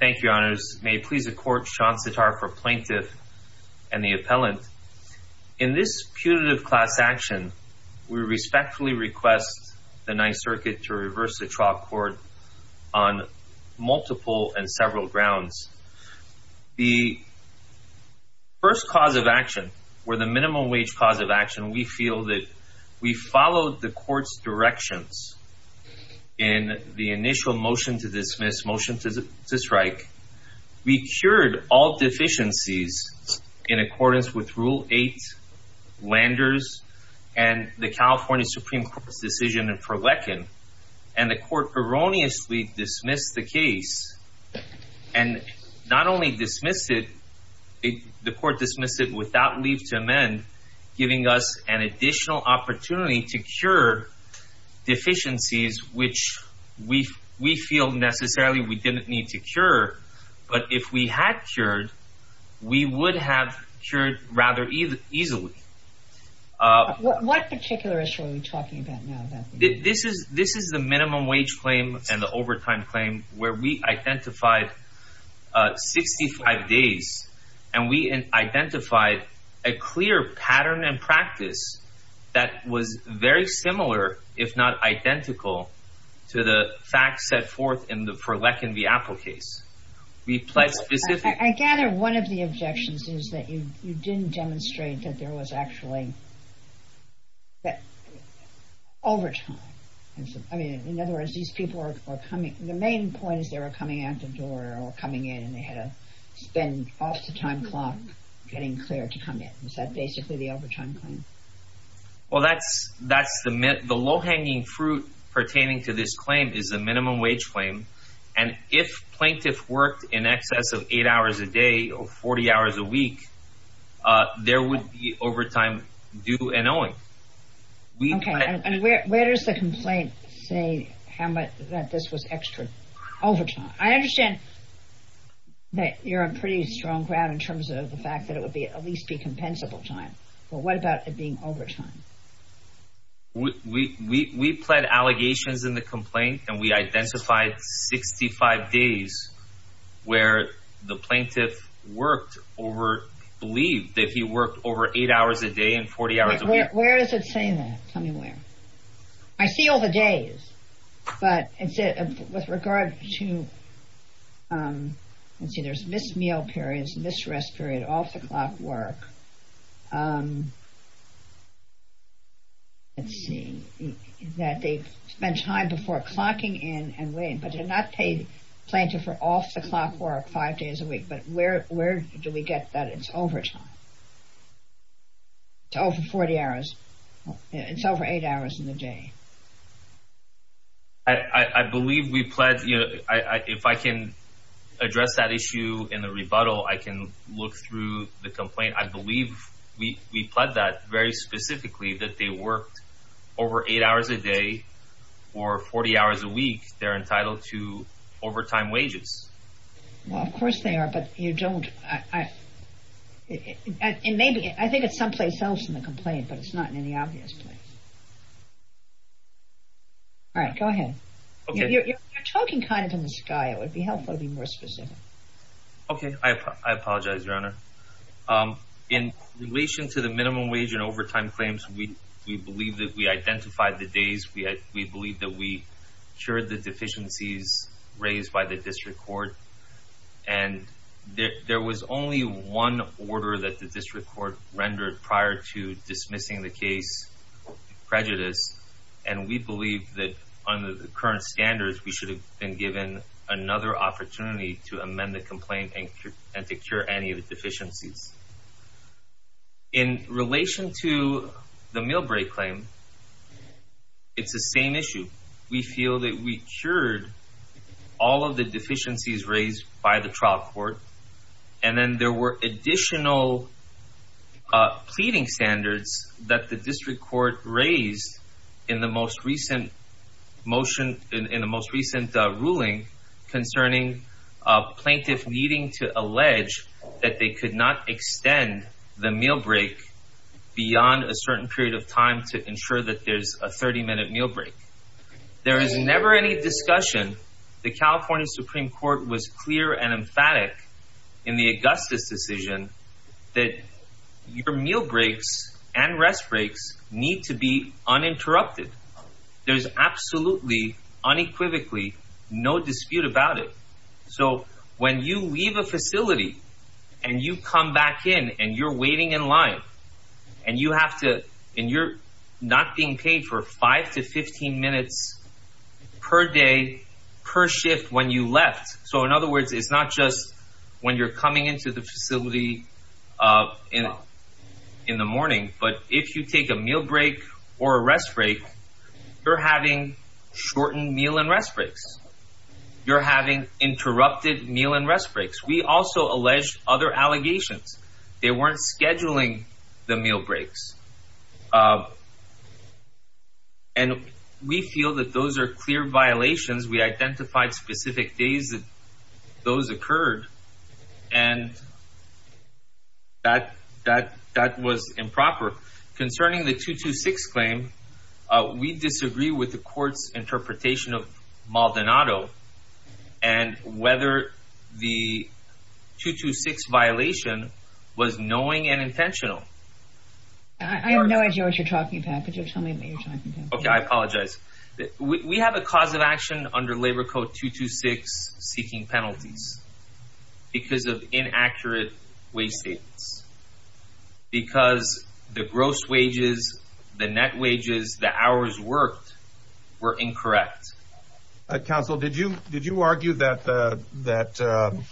Thank you, Your Honors. May it please the Court, Sean Sitar for Plaintiff and the Appellant. In this putative class action, we respectfully request the Ninth Circuit to reverse the trial court on multiple and several grounds. The first cause of action, or the minimum wage cause of action, we feel that we followed the Court's directions in the initial motion to dismiss, motion to strike. We cured all deficiencies in accordance with Rule 8, Landers, and the California Supreme Court's decision in Perlequin, and the Court erroneously dismissed the case. And not only dismissed it, the Court dismissed it without leave to amend, giving us an additional opportunity to cure deficiencies which we feel necessarily we didn't need to cure. But if we had cured, we would have cured rather easily. What particular issue are we talking about now? This is the minimum wage claim and the overtime claim where we identified 65 days, and we that was very similar, if not identical, to the facts set forth in the Perlequin v. Appell case. I gather one of the objections is that you didn't demonstrate that there was actually overtime. I mean, in other words, these people were coming, the main point is they were coming out the door or coming in and they had to spend half the time clock getting cleared to come in. Is that basically the overtime claim? Well, that's the low-hanging fruit pertaining to this claim is the minimum wage claim. And if plaintiff worked in excess of 8 hours a day or 40 hours a week, there would be overtime due and owing. Okay. And where does the complaint say how much that this was extra overtime? I understand that you're on pretty strong ground in terms of the fact that it would be at least be compensable time. But what about it being overtime? We pled allegations in the complaint and we identified 65 days where the plaintiff worked or believed that he worked over 8 hours a day and 40 hours a week. Where is it saying that? Tell me where. I see all the days, but with regard to, let's see, there's missed meal periods, missed rest period, off-the-clock work, let's see, that they've spent time before clocking in and waiting, but they're not paid plaintiff for off-the-clock work five days a week. But where do we get that it's overtime? It's over 40 hours. It's over 8 hours in the day. I believe we pledged, you know, if I can address that issue in the rebuttal, I can look through the complaint. I believe we pled that very specifically that they worked over 8 hours a day or 40 hours a week. They're entitled to overtime wages. Well, of course they are, but you don't, and maybe I think it's someplace else in the complaint, but it's not in any obvious place. All right. Go ahead. Okay. You're talking kind of in the sky. It would be helpful to be more specific. Okay. I apologize, Your Honor. In relation to the minimum wage and overtime claims, we believe that we identified the days. We believe that we cured the deficiencies raised by the district court, and there was only one order that the district court rendered prior to dismissing the case prejudice, and we believe that under the current standards, we should have been given another opportunity to amend the complaint and to cure any of the deficiencies. In relation to the meal break claim, it's the same issue. We feel that we cured all of the deficiencies raised by the trial court, and then there were additional pleading standards that the district court raised in the most recent ruling concerning a plaintiff needing to allege that they could not extend the meal break beyond a certain period of time to ensure that there's a 30-minute meal break. There is never any discussion. The California Supreme Court was clear and emphatic in the Augustus decision that your meal breaks and rest breaks need to be uninterrupted. There's absolutely, unequivocally, no dispute about it. When you leave a facility, and you come back in, and you're waiting in line, and you're not being paid for 5 to 15 minutes per day per shift when you left. In other words, it's not just when you're coming into the facility in the morning, but if you take a meal break or a rest break, you're having shortened meal and rest breaks. You're having interrupted meal and rest breaks. We also alleged other allegations. They weren't scheduling the meal breaks, and we feel that those are clear violations. We identified specific days that those occurred, and that was improper. Concerning the 226 claim, we disagree with the court's interpretation of Maldonado and whether the 226 violation was knowing and intentional. I have no idea what you're talking about, but just tell me what you're talking about. Okay, I apologize. We have a cause of action under Labor Code 226 seeking penalties because of inaccurate wage statements, because the gross wages, the net wages, the hours worked were incorrect. Counsel, did you argue that the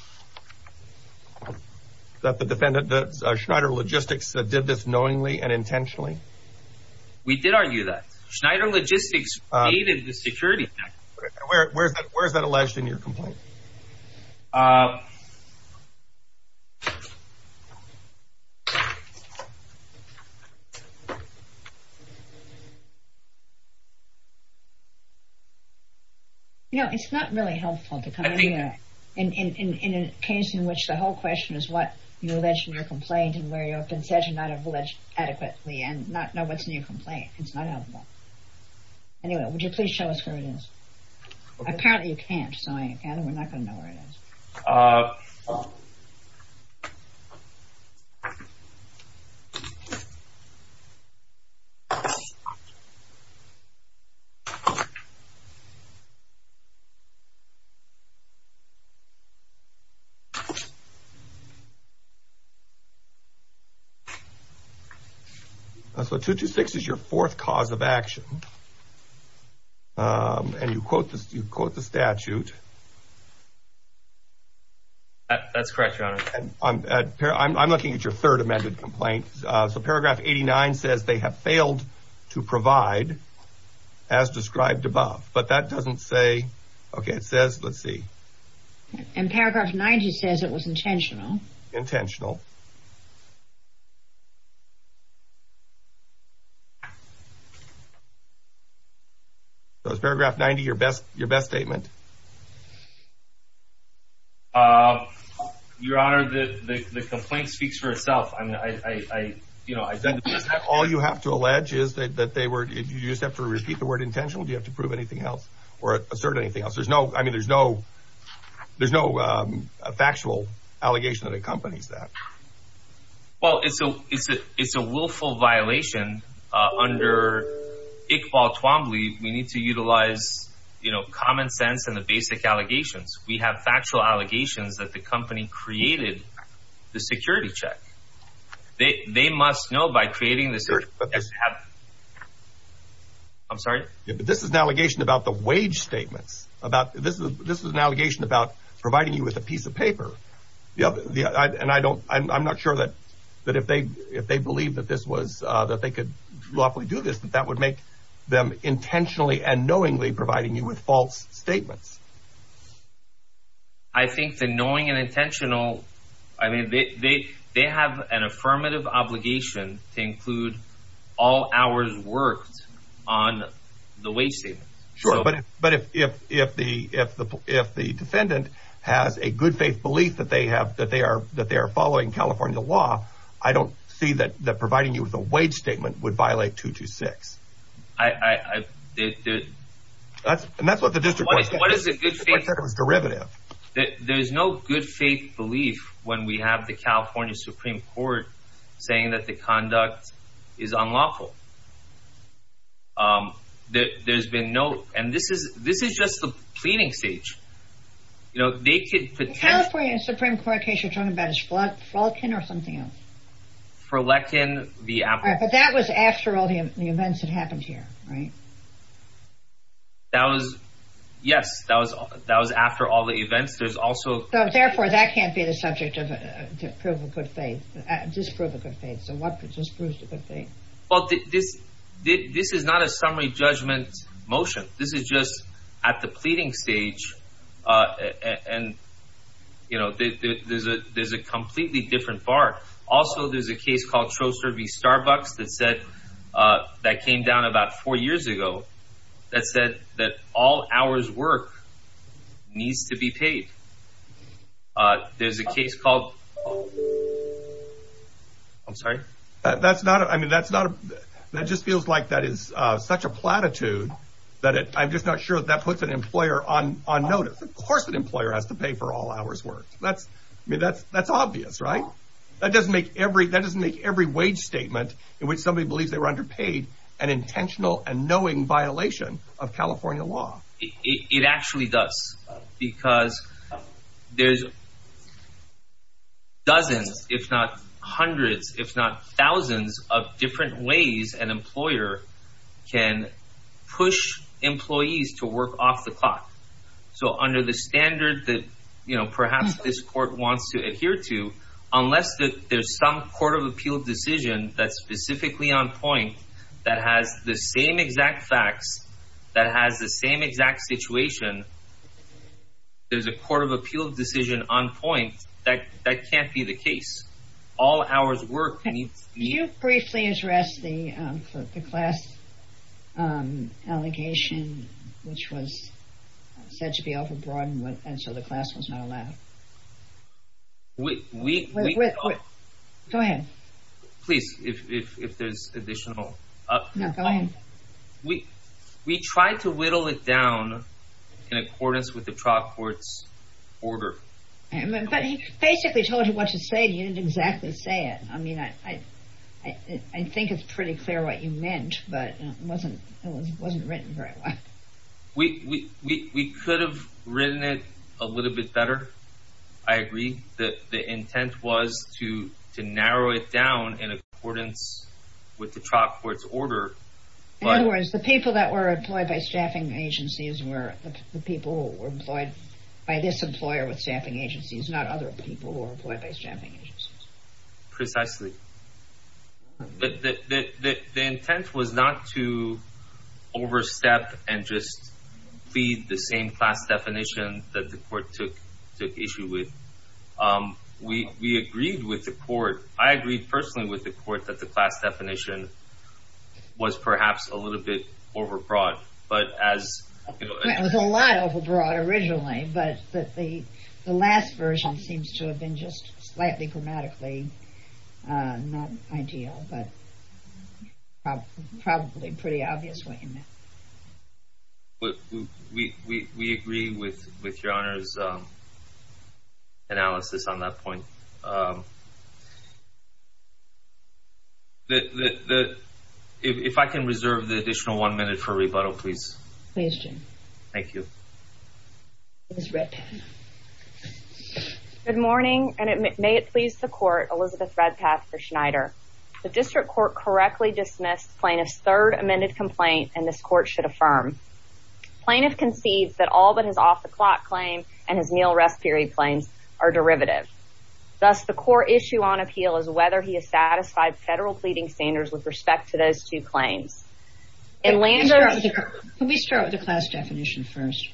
Schneider Logistics did this knowingly and intentionally? We did argue that. Schneider Logistics aided the Security Act. Where is that alleged in your complaint? You know, it's not really helpful to come in here in a case in which the whole question is what you alleged in your complaint and where you have been said to not have alleged adequately and not know what's in your complaint. It's not helpful. Anyway, would you please show us where it is? Apparently you can't, so we're not going to know where it is. So 226 is your fourth cause of action. And you quote the statute. That's correct, Your Honor. I'm looking at your third amended complaint. So paragraph 89 says they have failed to provide as described above. But that doesn't say, okay, it says, let's see. And paragraph 90 says it was intentional. Intentional. So is paragraph 90 your best statement? Your Honor, the complaint speaks for itself. All you have to allege is that you just have to repeat the word intentional? Do you have to prove anything else or assert anything else? I mean, there's no factual allegation that accompanies that. Well, it's a willful violation. And under Iqbal Twombly, we need to utilize, you know, common sense and the basic allegations. We have factual allegations that the company created the security check. They must know by creating the security check. I'm sorry? This is an allegation about the wage statements. And I'm not sure that if they believed that they could lawfully do this, that that would make them intentionally and knowingly providing you with false statements. I think the knowing and intentional, I mean, they have an affirmative obligation to include all hours worked on the wage statements. Sure, but if the defendant has a good faith belief that they are following California law, I don't see that providing you with a wage statement would violate 226. And that's what the district court said. The court said it was derivative. There's no good faith belief when we have the California Supreme Court saying that the conduct is unlawful. There's been no, and this is just the cleaning stage. You know, they could pretend. The California Supreme Court case you're talking about is Frolkin or something else? Frolkin, the apple. But that was after all the events that happened here, right? That was, yes, that was after all the events. There's also. So, therefore, that can't be the subject of, to prove a good faith, just prove a good faith. So, what just proves a good faith? Well, this is not a summary judgment motion. This is just at the pleading stage, and, you know, there's a completely different bar. Also, there's a case called Troster v. Starbucks that said, that came down about four years ago, that said that all hours worked needs to be paid. There's a case called. I'm sorry? That's not. I mean, that's not. That just feels like that is such a platitude that I'm just not sure that puts an employer on notice. Of course an employer has to pay for all hours worked. I mean, that's obvious, right? That doesn't make every wage statement in which somebody believes they were underpaid an intentional and knowing violation of California law. It actually does, because there's dozens, if not hundreds, if not thousands, of different ways an employer can push employees to work off the clock. So, under the standard that, you know, perhaps this court wants to adhere to, unless there's some court of appeal decision that's specifically on point, that has the same exact facts, that has the same exact situation, there's a court of appeal decision on point, that can't be the case. All hours worked needs to be. Can you briefly address the class allegation which was said to be overbroad and so the class was not allowed? We. Go ahead. Please, if there's additional. No, go ahead. We tried to whittle it down in accordance with the trial court's order. But he basically told you what to say and you didn't exactly say it. I mean, I think it's pretty clear what you meant, but it wasn't written very well. We could have written it a little bit better, I agree. The intent was to narrow it down in accordance with the trial court's order. In other words, the people that were employed by staffing agencies were the people who were employed by this employer with staffing agencies, not other people who were employed by staffing agencies. Precisely. The intent was not to overstep and just plead the same class definition that the court took issue with. We agreed with the court. I agreed personally with the court that the class definition was perhaps a little bit overbroad. It was a lot overbroad originally, but the last version seems to have been just slightly grammatically not ideal, but probably pretty obvious what you meant. We agree with your Honor's analysis on that point. If I can reserve the additional one minute for rebuttal, please. Please, Jim. Thank you. Ms. Redpath. Good morning, and may it please the court, Elizabeth Redpath for Schneider. The district court correctly dismissed plaintiff's third amended complaint, and this court should affirm. Plaintiff concedes that all but his off-the-clock claim and his meal-rest period claims are derivative. Thus, the court issue on appeal is whether he has satisfied federal pleading standards with respect to those two claims. Can we start with the class definition first?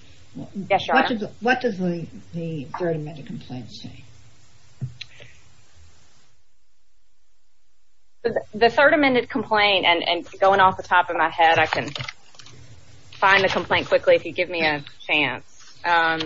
Yes, Your Honor. What does the third amended complaint say? The third amended complaint, and going off the top of my head, I can find the complaint quickly if you give me a chance. I'm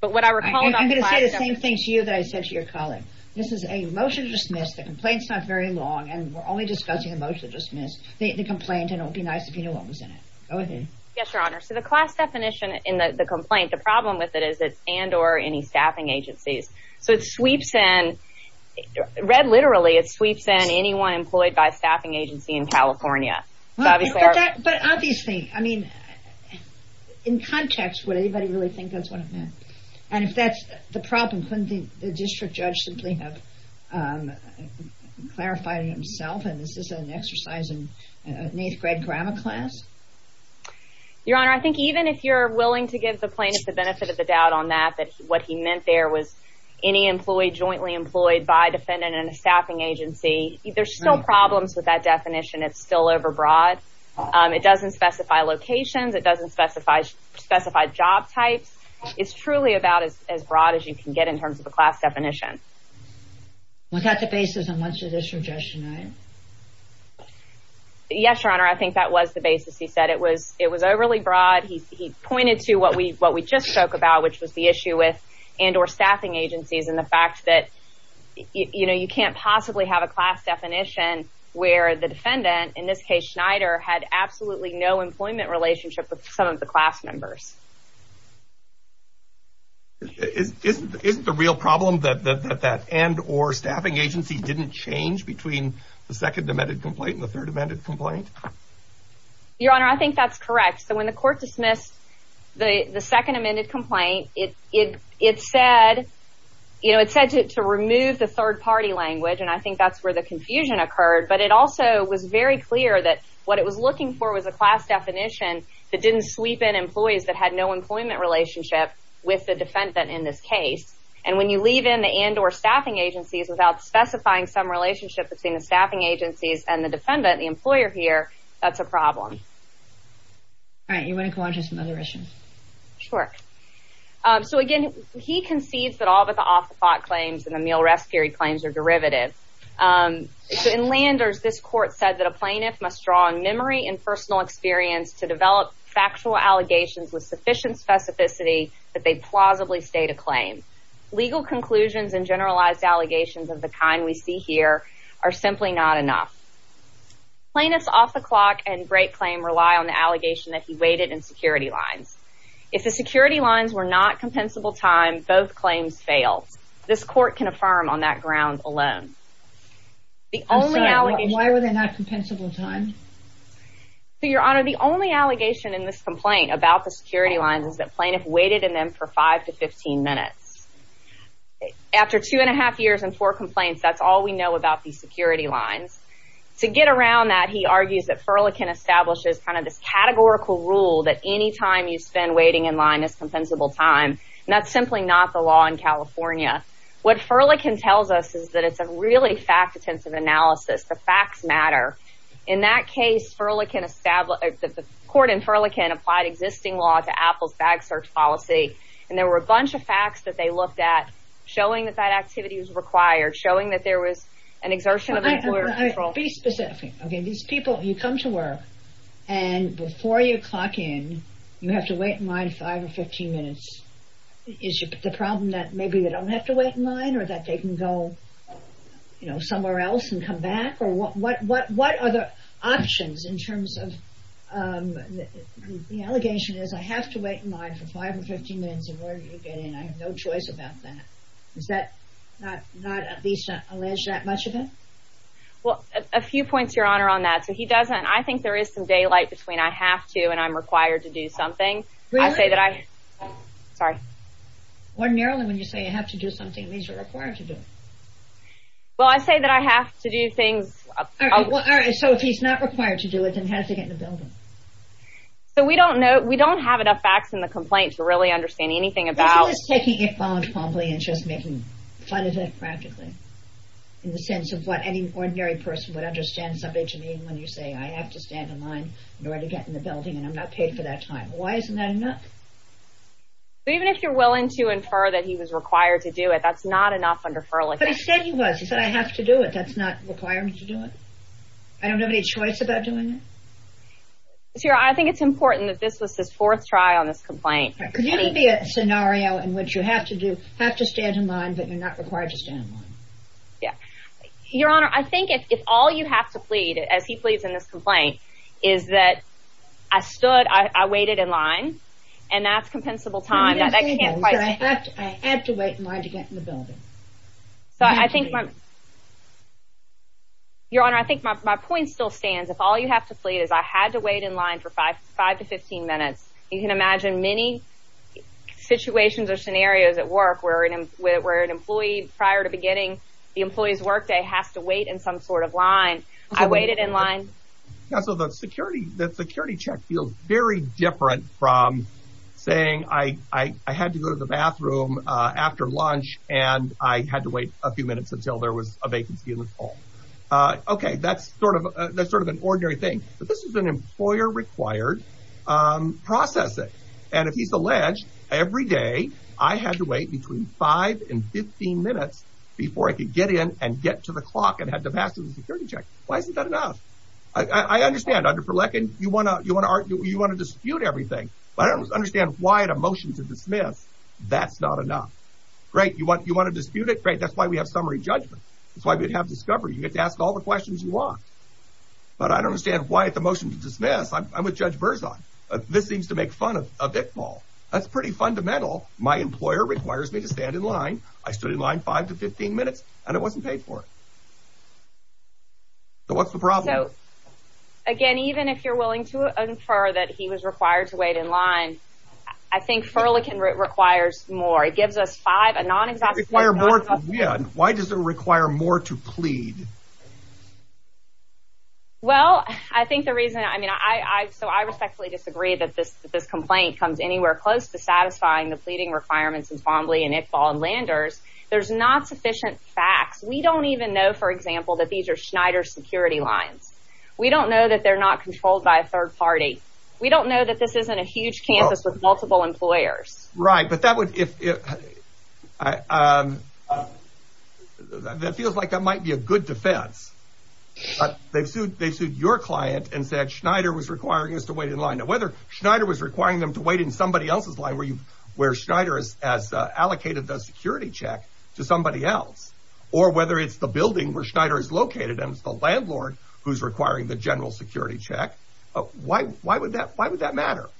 going to say the same thing to you that I said to your colleague. This is a motion to dismiss. The complaint's not very long, and we're only discussing a motion to dismiss the complaint, and it would be nice if you knew what was in it. Go ahead. Yes, Your Honor. So the class definition in the complaint, the problem with it is it's and or any staffing agencies. So it sweeps in. Read literally, it sweeps in anyone employed by a staffing agency in California. But obviously, I mean, in context, would anybody really think that's what it meant? And if that's the problem, couldn't the district judge simply have clarified it himself, and this is an exercise in an eighth-grade grammar class? Your Honor, I think even if you're willing to give the plaintiff the benefit of the doubt on that, that what he meant there was any employee jointly employed by a defendant in a staffing agency, there's still problems with that definition. It's still overbroad. It doesn't specify locations. It doesn't specify job types. It's truly about as broad as you can get in terms of a class definition. Was that the basis on which the district judge denied? Yes, Your Honor. I think that was the basis he said. It was overly broad. He pointed to what we just spoke about, which was the issue with and or staffing agencies and the fact that, you know, you can't possibly have a class definition where the defendant, in this case Schneider, had absolutely no employment relationship with some of the class members. Isn't the real problem that that and or staffing agency didn't change between the second amended complaint and the third amended complaint? Your Honor, I think that's correct. So when the court dismissed the second amended complaint, it said, you know, it said to remove the third-party language, and I think that's where the confusion occurred, but it also was very clear that what it was looking for was a class definition that didn't sweep in employees that had no employment relationship with the defendant in this case. And when you leave in the and or staffing agencies without specifying some relationship between the staffing agencies and the defendant, the employer here, that's a problem. All right. You want to go on to some other issues? Sure. So, again, he concedes that all but the off-the-clock claims and the meal rest period claims are derivative. So in Landers, this court said that a plaintiff must draw on memory and personal experience to develop factual allegations with sufficient specificity that they plausibly state a claim. Legal conclusions and generalized allegations of the kind we see here are simply not enough. Plaintiffs' off-the-clock and break claim rely on the allegation that he waited in security lines. If the security lines were not compensable time, both claims fail. This court can affirm on that ground alone. Why were they not compensable time? Your Honor, the only allegation in this complaint about the security lines is that plaintiff waited in them for five to 15 minutes. After two and a half years and four complaints, that's all we know about these security lines. To get around that, he argues that Furlikin establishes kind of this categorical rule that any time you spend waiting in line is compensable time, and that's simply not the law in California. What Furlikin tells us is that it's a really fact-intensive analysis. The facts matter. In that case, the court in Furlikin applied existing law to Apple's bag search policy, and there were a bunch of facts that they looked at showing that that activity was required, showing that there was an exertion of employer control. Be specific. These people, you come to work, and before you clock in, you have to wait in line five or 15 minutes. Is the problem that maybe they don't have to wait in line, or that they can go somewhere else and come back? Or what are the options in terms of the allegation is I have to wait in line for five or 15 minutes, and where do you get in? I have no choice about that. Is that not at least alleged that much of it? Well, a few points, Your Honor, on that. So he doesn't. I think there is some daylight between I have to and I'm required to do something. Really? Sorry. Ordinarily, when you say you have to do something, it means you're required to do it. Well, I say that I have to do things. All right. So if he's not required to do it, then how does he get in the building? So we don't know. We don't have enough facts in the complaint to really understand anything about. He's just taking it on promptly and just making fun of it practically, in the sense of what any ordinary person would understand somebody to mean when you say, I have to stand in line in order to get in the building, and I'm not paid for that time. Why isn't that enough? Even if you're willing to infer that he was required to do it, that's not enough under FERLA. But he said he was. He said, I have to do it. That's not requiring me to do it? I don't have any choice about doing it? I think it's important that this was his fourth try on this complaint. Could you give me a scenario in which you have to stand in line, but you're not required to stand in line? Yeah. Your Honor, I think if all you have to plead, as he pleads in this complaint, is that I stood, I waited in line, and that's compensable time. I had to wait in line to get in the building. Your Honor, I think my point still stands. If all you have to plead is I had to wait in line for five to 15 minutes, you can imagine many situations or scenarios at work where an employee, prior to beginning the employee's workday, has to wait in some sort of line. I waited in line. Counsel, the security check feels very different from saying I had to go to the bathroom after lunch and I had to wait a few minutes until there was a vacancy in the hall. Okay, that's sort of an ordinary thing. But this is an employer-required processing. And if he's alleged every day I had to wait between five and 15 minutes before I could get in and get to the clock and had to pass him the security check, why isn't that enough? I understand, under Verlecken, you want to dispute everything, but I don't understand why, at a motion to dismiss, that's not enough. Great, you want to dispute it? Great, that's why we have summary judgment. That's why we have discovery. You get to ask all the questions you want. But I don't understand why, at the motion to dismiss, I'm with Judge Verzog. This seems to make fun of it all. That's pretty fundamental. My employer requires me to stand in line. I stood in line five to 15 minutes, and I wasn't paid for it. So what's the problem? Again, even if you're willing to infer that he was required to wait in line, I think Verlecken requires more. It gives us five, a non-exhaustible. Why does it require more to plead? Well, I think the reason, I mean, so I respectfully disagree that this complaint comes anywhere close to satisfying the pleading requirements in Fombley and Iqbal and Landers. There's not sufficient facts. We don't even know, for example, that these are Schneider's security lines. We don't know that they're not controlled by a third party. We don't know that this isn't a huge campus with multiple employers. Right, but that would, that feels like that might be a good defense. They sued your client and said Schneider was requiring us to wait in line. Now, whether Schneider was requiring them to wait in somebody else's line where Schneider has allocated the security check to somebody else or whether it's the building where Schneider is located and it's the landlord who's requiring the general security check, why would that matter?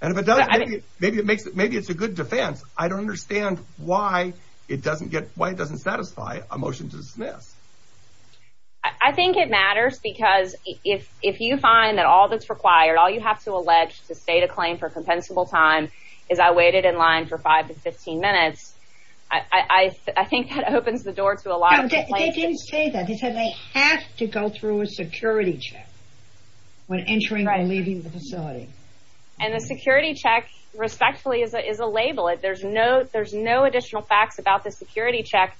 And if it does, maybe it's a good defense. I don't understand why it doesn't satisfy a motion to dismiss. I think it matters because if you find that all that's required, all you have to allege to state a claim for compensable time is I waited in line for five to 15 minutes, I think that opens the door to a lot of complaints. They didn't say that. They said they have to go through a security check when entering or leaving the facility. And the security check, respectfully, is a label. There's no additional facts about the security check.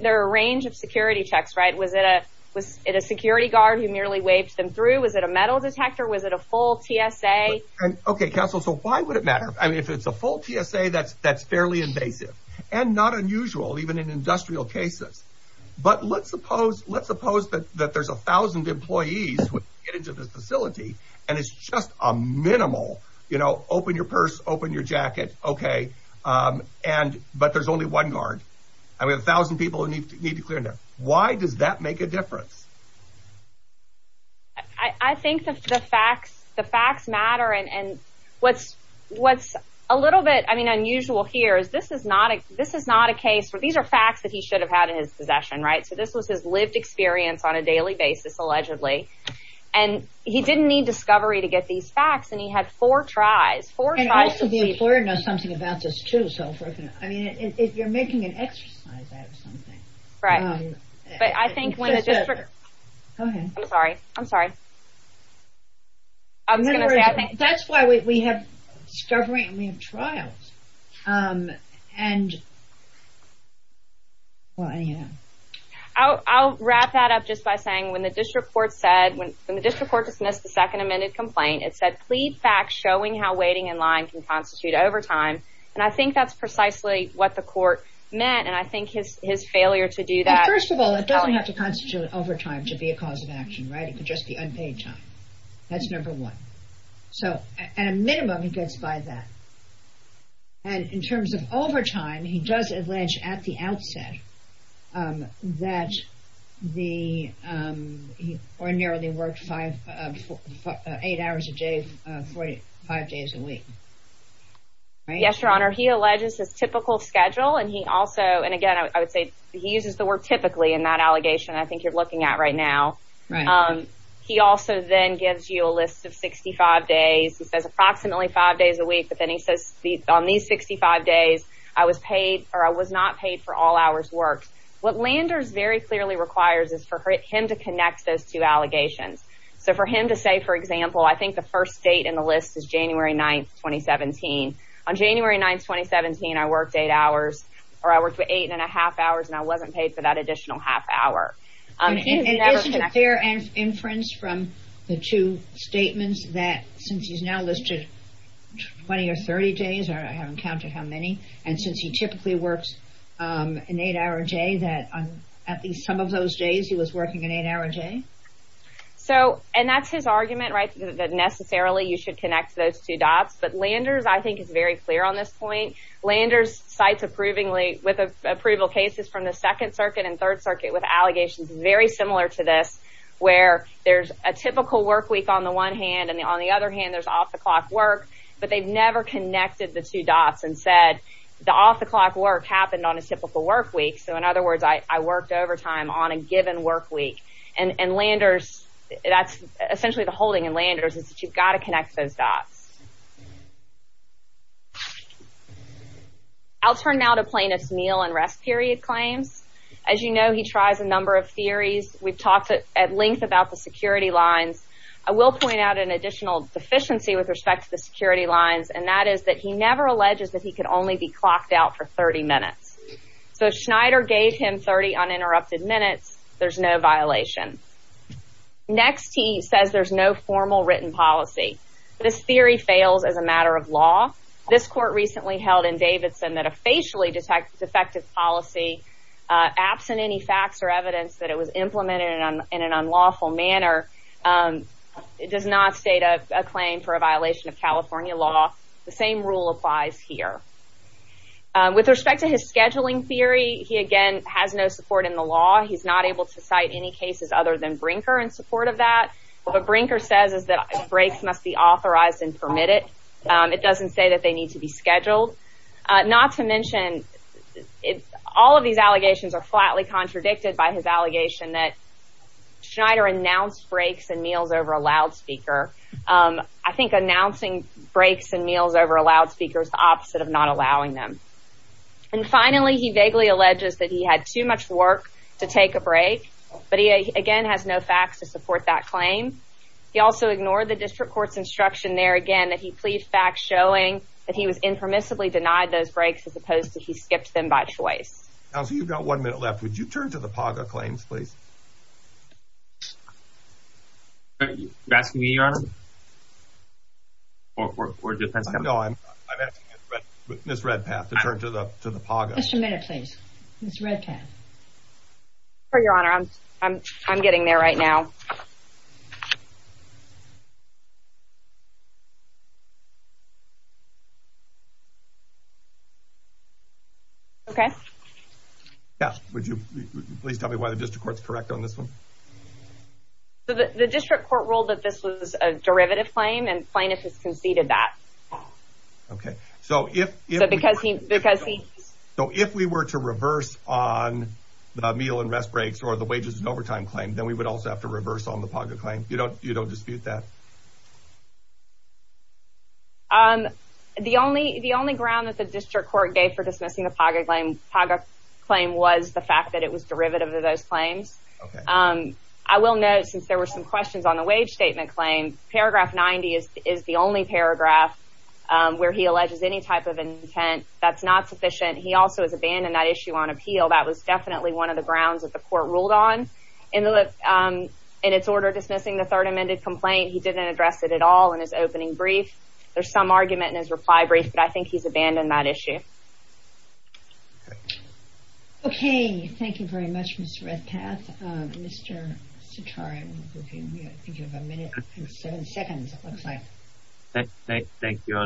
There are a range of security checks, right? Was it a security guard who merely waved them through? Was it a metal detector? Was it a full TSA? Okay, counsel, so why would it matter? I mean, if it's a full TSA, that's fairly invasive. And not unusual, even in industrial cases. But let's suppose that there's 1,000 employees who get into this facility and it's just a minimal, you know, open your purse, open your jacket, okay, but there's only one guard. I mean, 1,000 people who need to clear in there. Why does that make a difference? I think the facts matter. And what's a little bit, I mean, unusual here is this is not a case where these are facts that he should have had in his possession, right? So this was his lived experience on a daily basis, allegedly. And he didn't need discovery to get these facts, and he had four tries. And also the employer knows something about this too. I mean, if you're making an exercise out of something. Right. But I think when a district... Go ahead. I'm sorry. I'm sorry. I was going to say, I think... That's why we have discovery and we have trials. And, well, anyhow. I'll wrap that up just by saying when the district court said, when the district court dismissed the second amended complaint, it said plead facts showing how waiting in line can constitute overtime. And I think that's precisely what the court meant. And I think his failure to do that... First of all, it doesn't have to constitute overtime to be a cause of action, right? It could just be unpaid time. That's number one. So, at a minimum, he gets by that. And in terms of overtime, he does allege at the outset that he ordinarily worked eight hours a day, 45 days a week. Yes, Your Honor. He alleges his typical schedule, and he also... And, again, I would say he uses the word typically in that allegation that I think you're looking at right now. He also then gives you a list of 65 days. He says approximately five days a week, but then he says on these 65 days, I was not paid for all hours worked. What Landers very clearly requires is for him to connect those two allegations. So, for him to say, for example, I think the first date in the list is January 9th, 2017. On January 9th, 2017, I worked eight hours, or I worked for eight and a half hours, and I wasn't paid for that additional half hour. Isn't it fair inference from the two statements that since he's now listed 20 or 30 days, I haven't counted how many, and since he typically works an eight-hour day, that on at least some of those days he was working an eight-hour day? So, and that's his argument, right, that necessarily you should connect those two dots. But Landers, I think, is very clear on this point. Landers cites approvingly with approval cases from the Second Circuit and Third Circuit with allegations very similar to this where there's a typical work week on the one hand, and on the other hand, there's off-the-clock work, but they've never connected the two dots and said the off-the-clock work happened on a typical work week. So, in other words, I worked overtime on a given work week. And Landers, that's essentially the holding in Landers is that you've got to connect those dots. I'll turn now to plaintiff's meal and rest period claims. As you know, he tries a number of theories. We've talked at length about the security lines. I will point out an additional deficiency with respect to the security lines, and that is that he never alleges that he could only be clocked out for 30 minutes. So, if Schneider gave him 30 uninterrupted minutes, there's no violation. Next, he says there's no formal written policy. This theory fails as a matter of law. This court recently held in Davidson that a facially defective policy, absent any facts or evidence that it was implemented in an unlawful manner, does not state a claim for a violation of California law. The same rule applies here. With respect to his scheduling theory, he, again, has no support in the law. He's not able to cite any cases other than Brinker in support of that. What Brinker says is that breaks must be authorized and permitted. It doesn't say that they need to be scheduled. Not to mention, all of these allegations are flatly contradicted by his allegation that Schneider announced breaks and meals over a loudspeaker. I think announcing breaks and meals over a loudspeaker is the opposite of not allowing them. And finally, he vaguely alleges that he had too much work to take a break, but he, again, has no facts to support that claim. He also ignored the district court's instruction there, again, that he plead facts showing that he was impermissibly denied those breaks as opposed to he skipped them by choice. Counsel, you've got one minute left. Would you turn to the PAGA claims, please? Are you asking me, Your Honor? Or Defense Counsel? No, I'm asking Ms. Redpath to turn to the PAGA. Just a minute, please. Ms. Redpath. Sure, Your Honor. I'm getting there right now. Okay. Would you please tell me why the district court's correct on this one? The district court ruled that this was a derivative claim, and plaintiff has conceded that. Okay. So if we were to reverse on the meal and rest breaks or the wages and overtime claim, then we would also have to reverse on the PAGA claim. You don't dispute that? The only ground that the district court gave for dismissing the PAGA claim was the fact that it was derivative of those claims. I will note, since there were some questions on the wage statement claim, paragraph 90 is the only paragraph where he alleges any type of intent. That's not sufficient. He also has abandoned that issue on appeal. That was definitely one of the grounds that the court ruled on. In its order dismissing the third amended complaint, he didn't address it at all in his opening brief. There's some argument in his reply brief, but I think he's abandoned that issue. Okay. Thank you very much, Ms. Redpath. Mr. Sitara, I think you have a minute and seven seconds, it looks like. Thank you.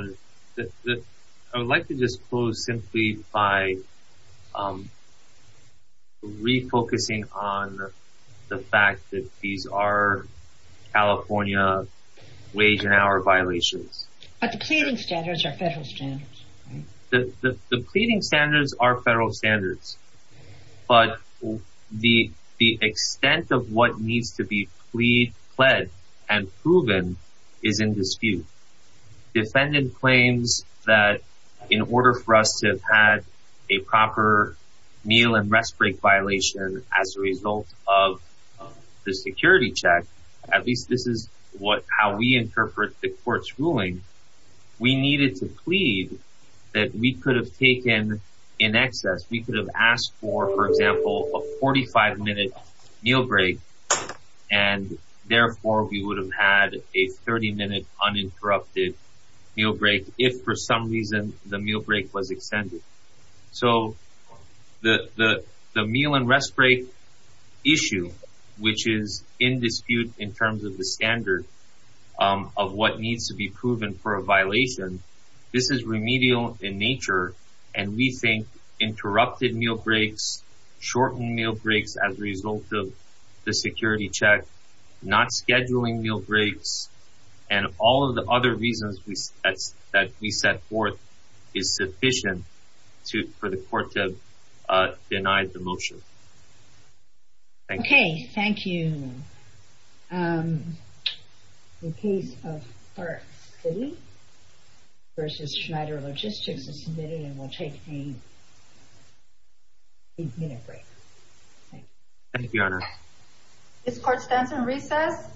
I would like to just close simply by refocusing on the fact that these are California wage and hour violations. But the pleading standards are federal standards, right? The pleading standards are federal standards. But the extent of what needs to be plead, pled, and proven is in dispute. Defendant claims that in order for us to have had a proper meal and rest break violation as a result of the security check, at least this is how we interpret the court's ruling, we needed to plead that we could have taken in excess. We could have asked for, for example, a 45-minute meal break, and therefore we would have had a 30-minute uninterrupted meal break if for some reason the meal break was extended. So the meal and rest break issue, which is in dispute in terms of the standard of what needs to be proven for a violation, this is remedial in nature, and we think interrupted meal breaks, shortened meal breaks as a result of the security check, not scheduling meal breaks, and all of the other reasons that we set forth is sufficient for the court to deny the motion. Thank you. Okay, thank you. The case of Clark City v. Schneider Logistics is submitted and will take a 30-minute break. Thank you. Thank you, Your Honor. This court stands on recess.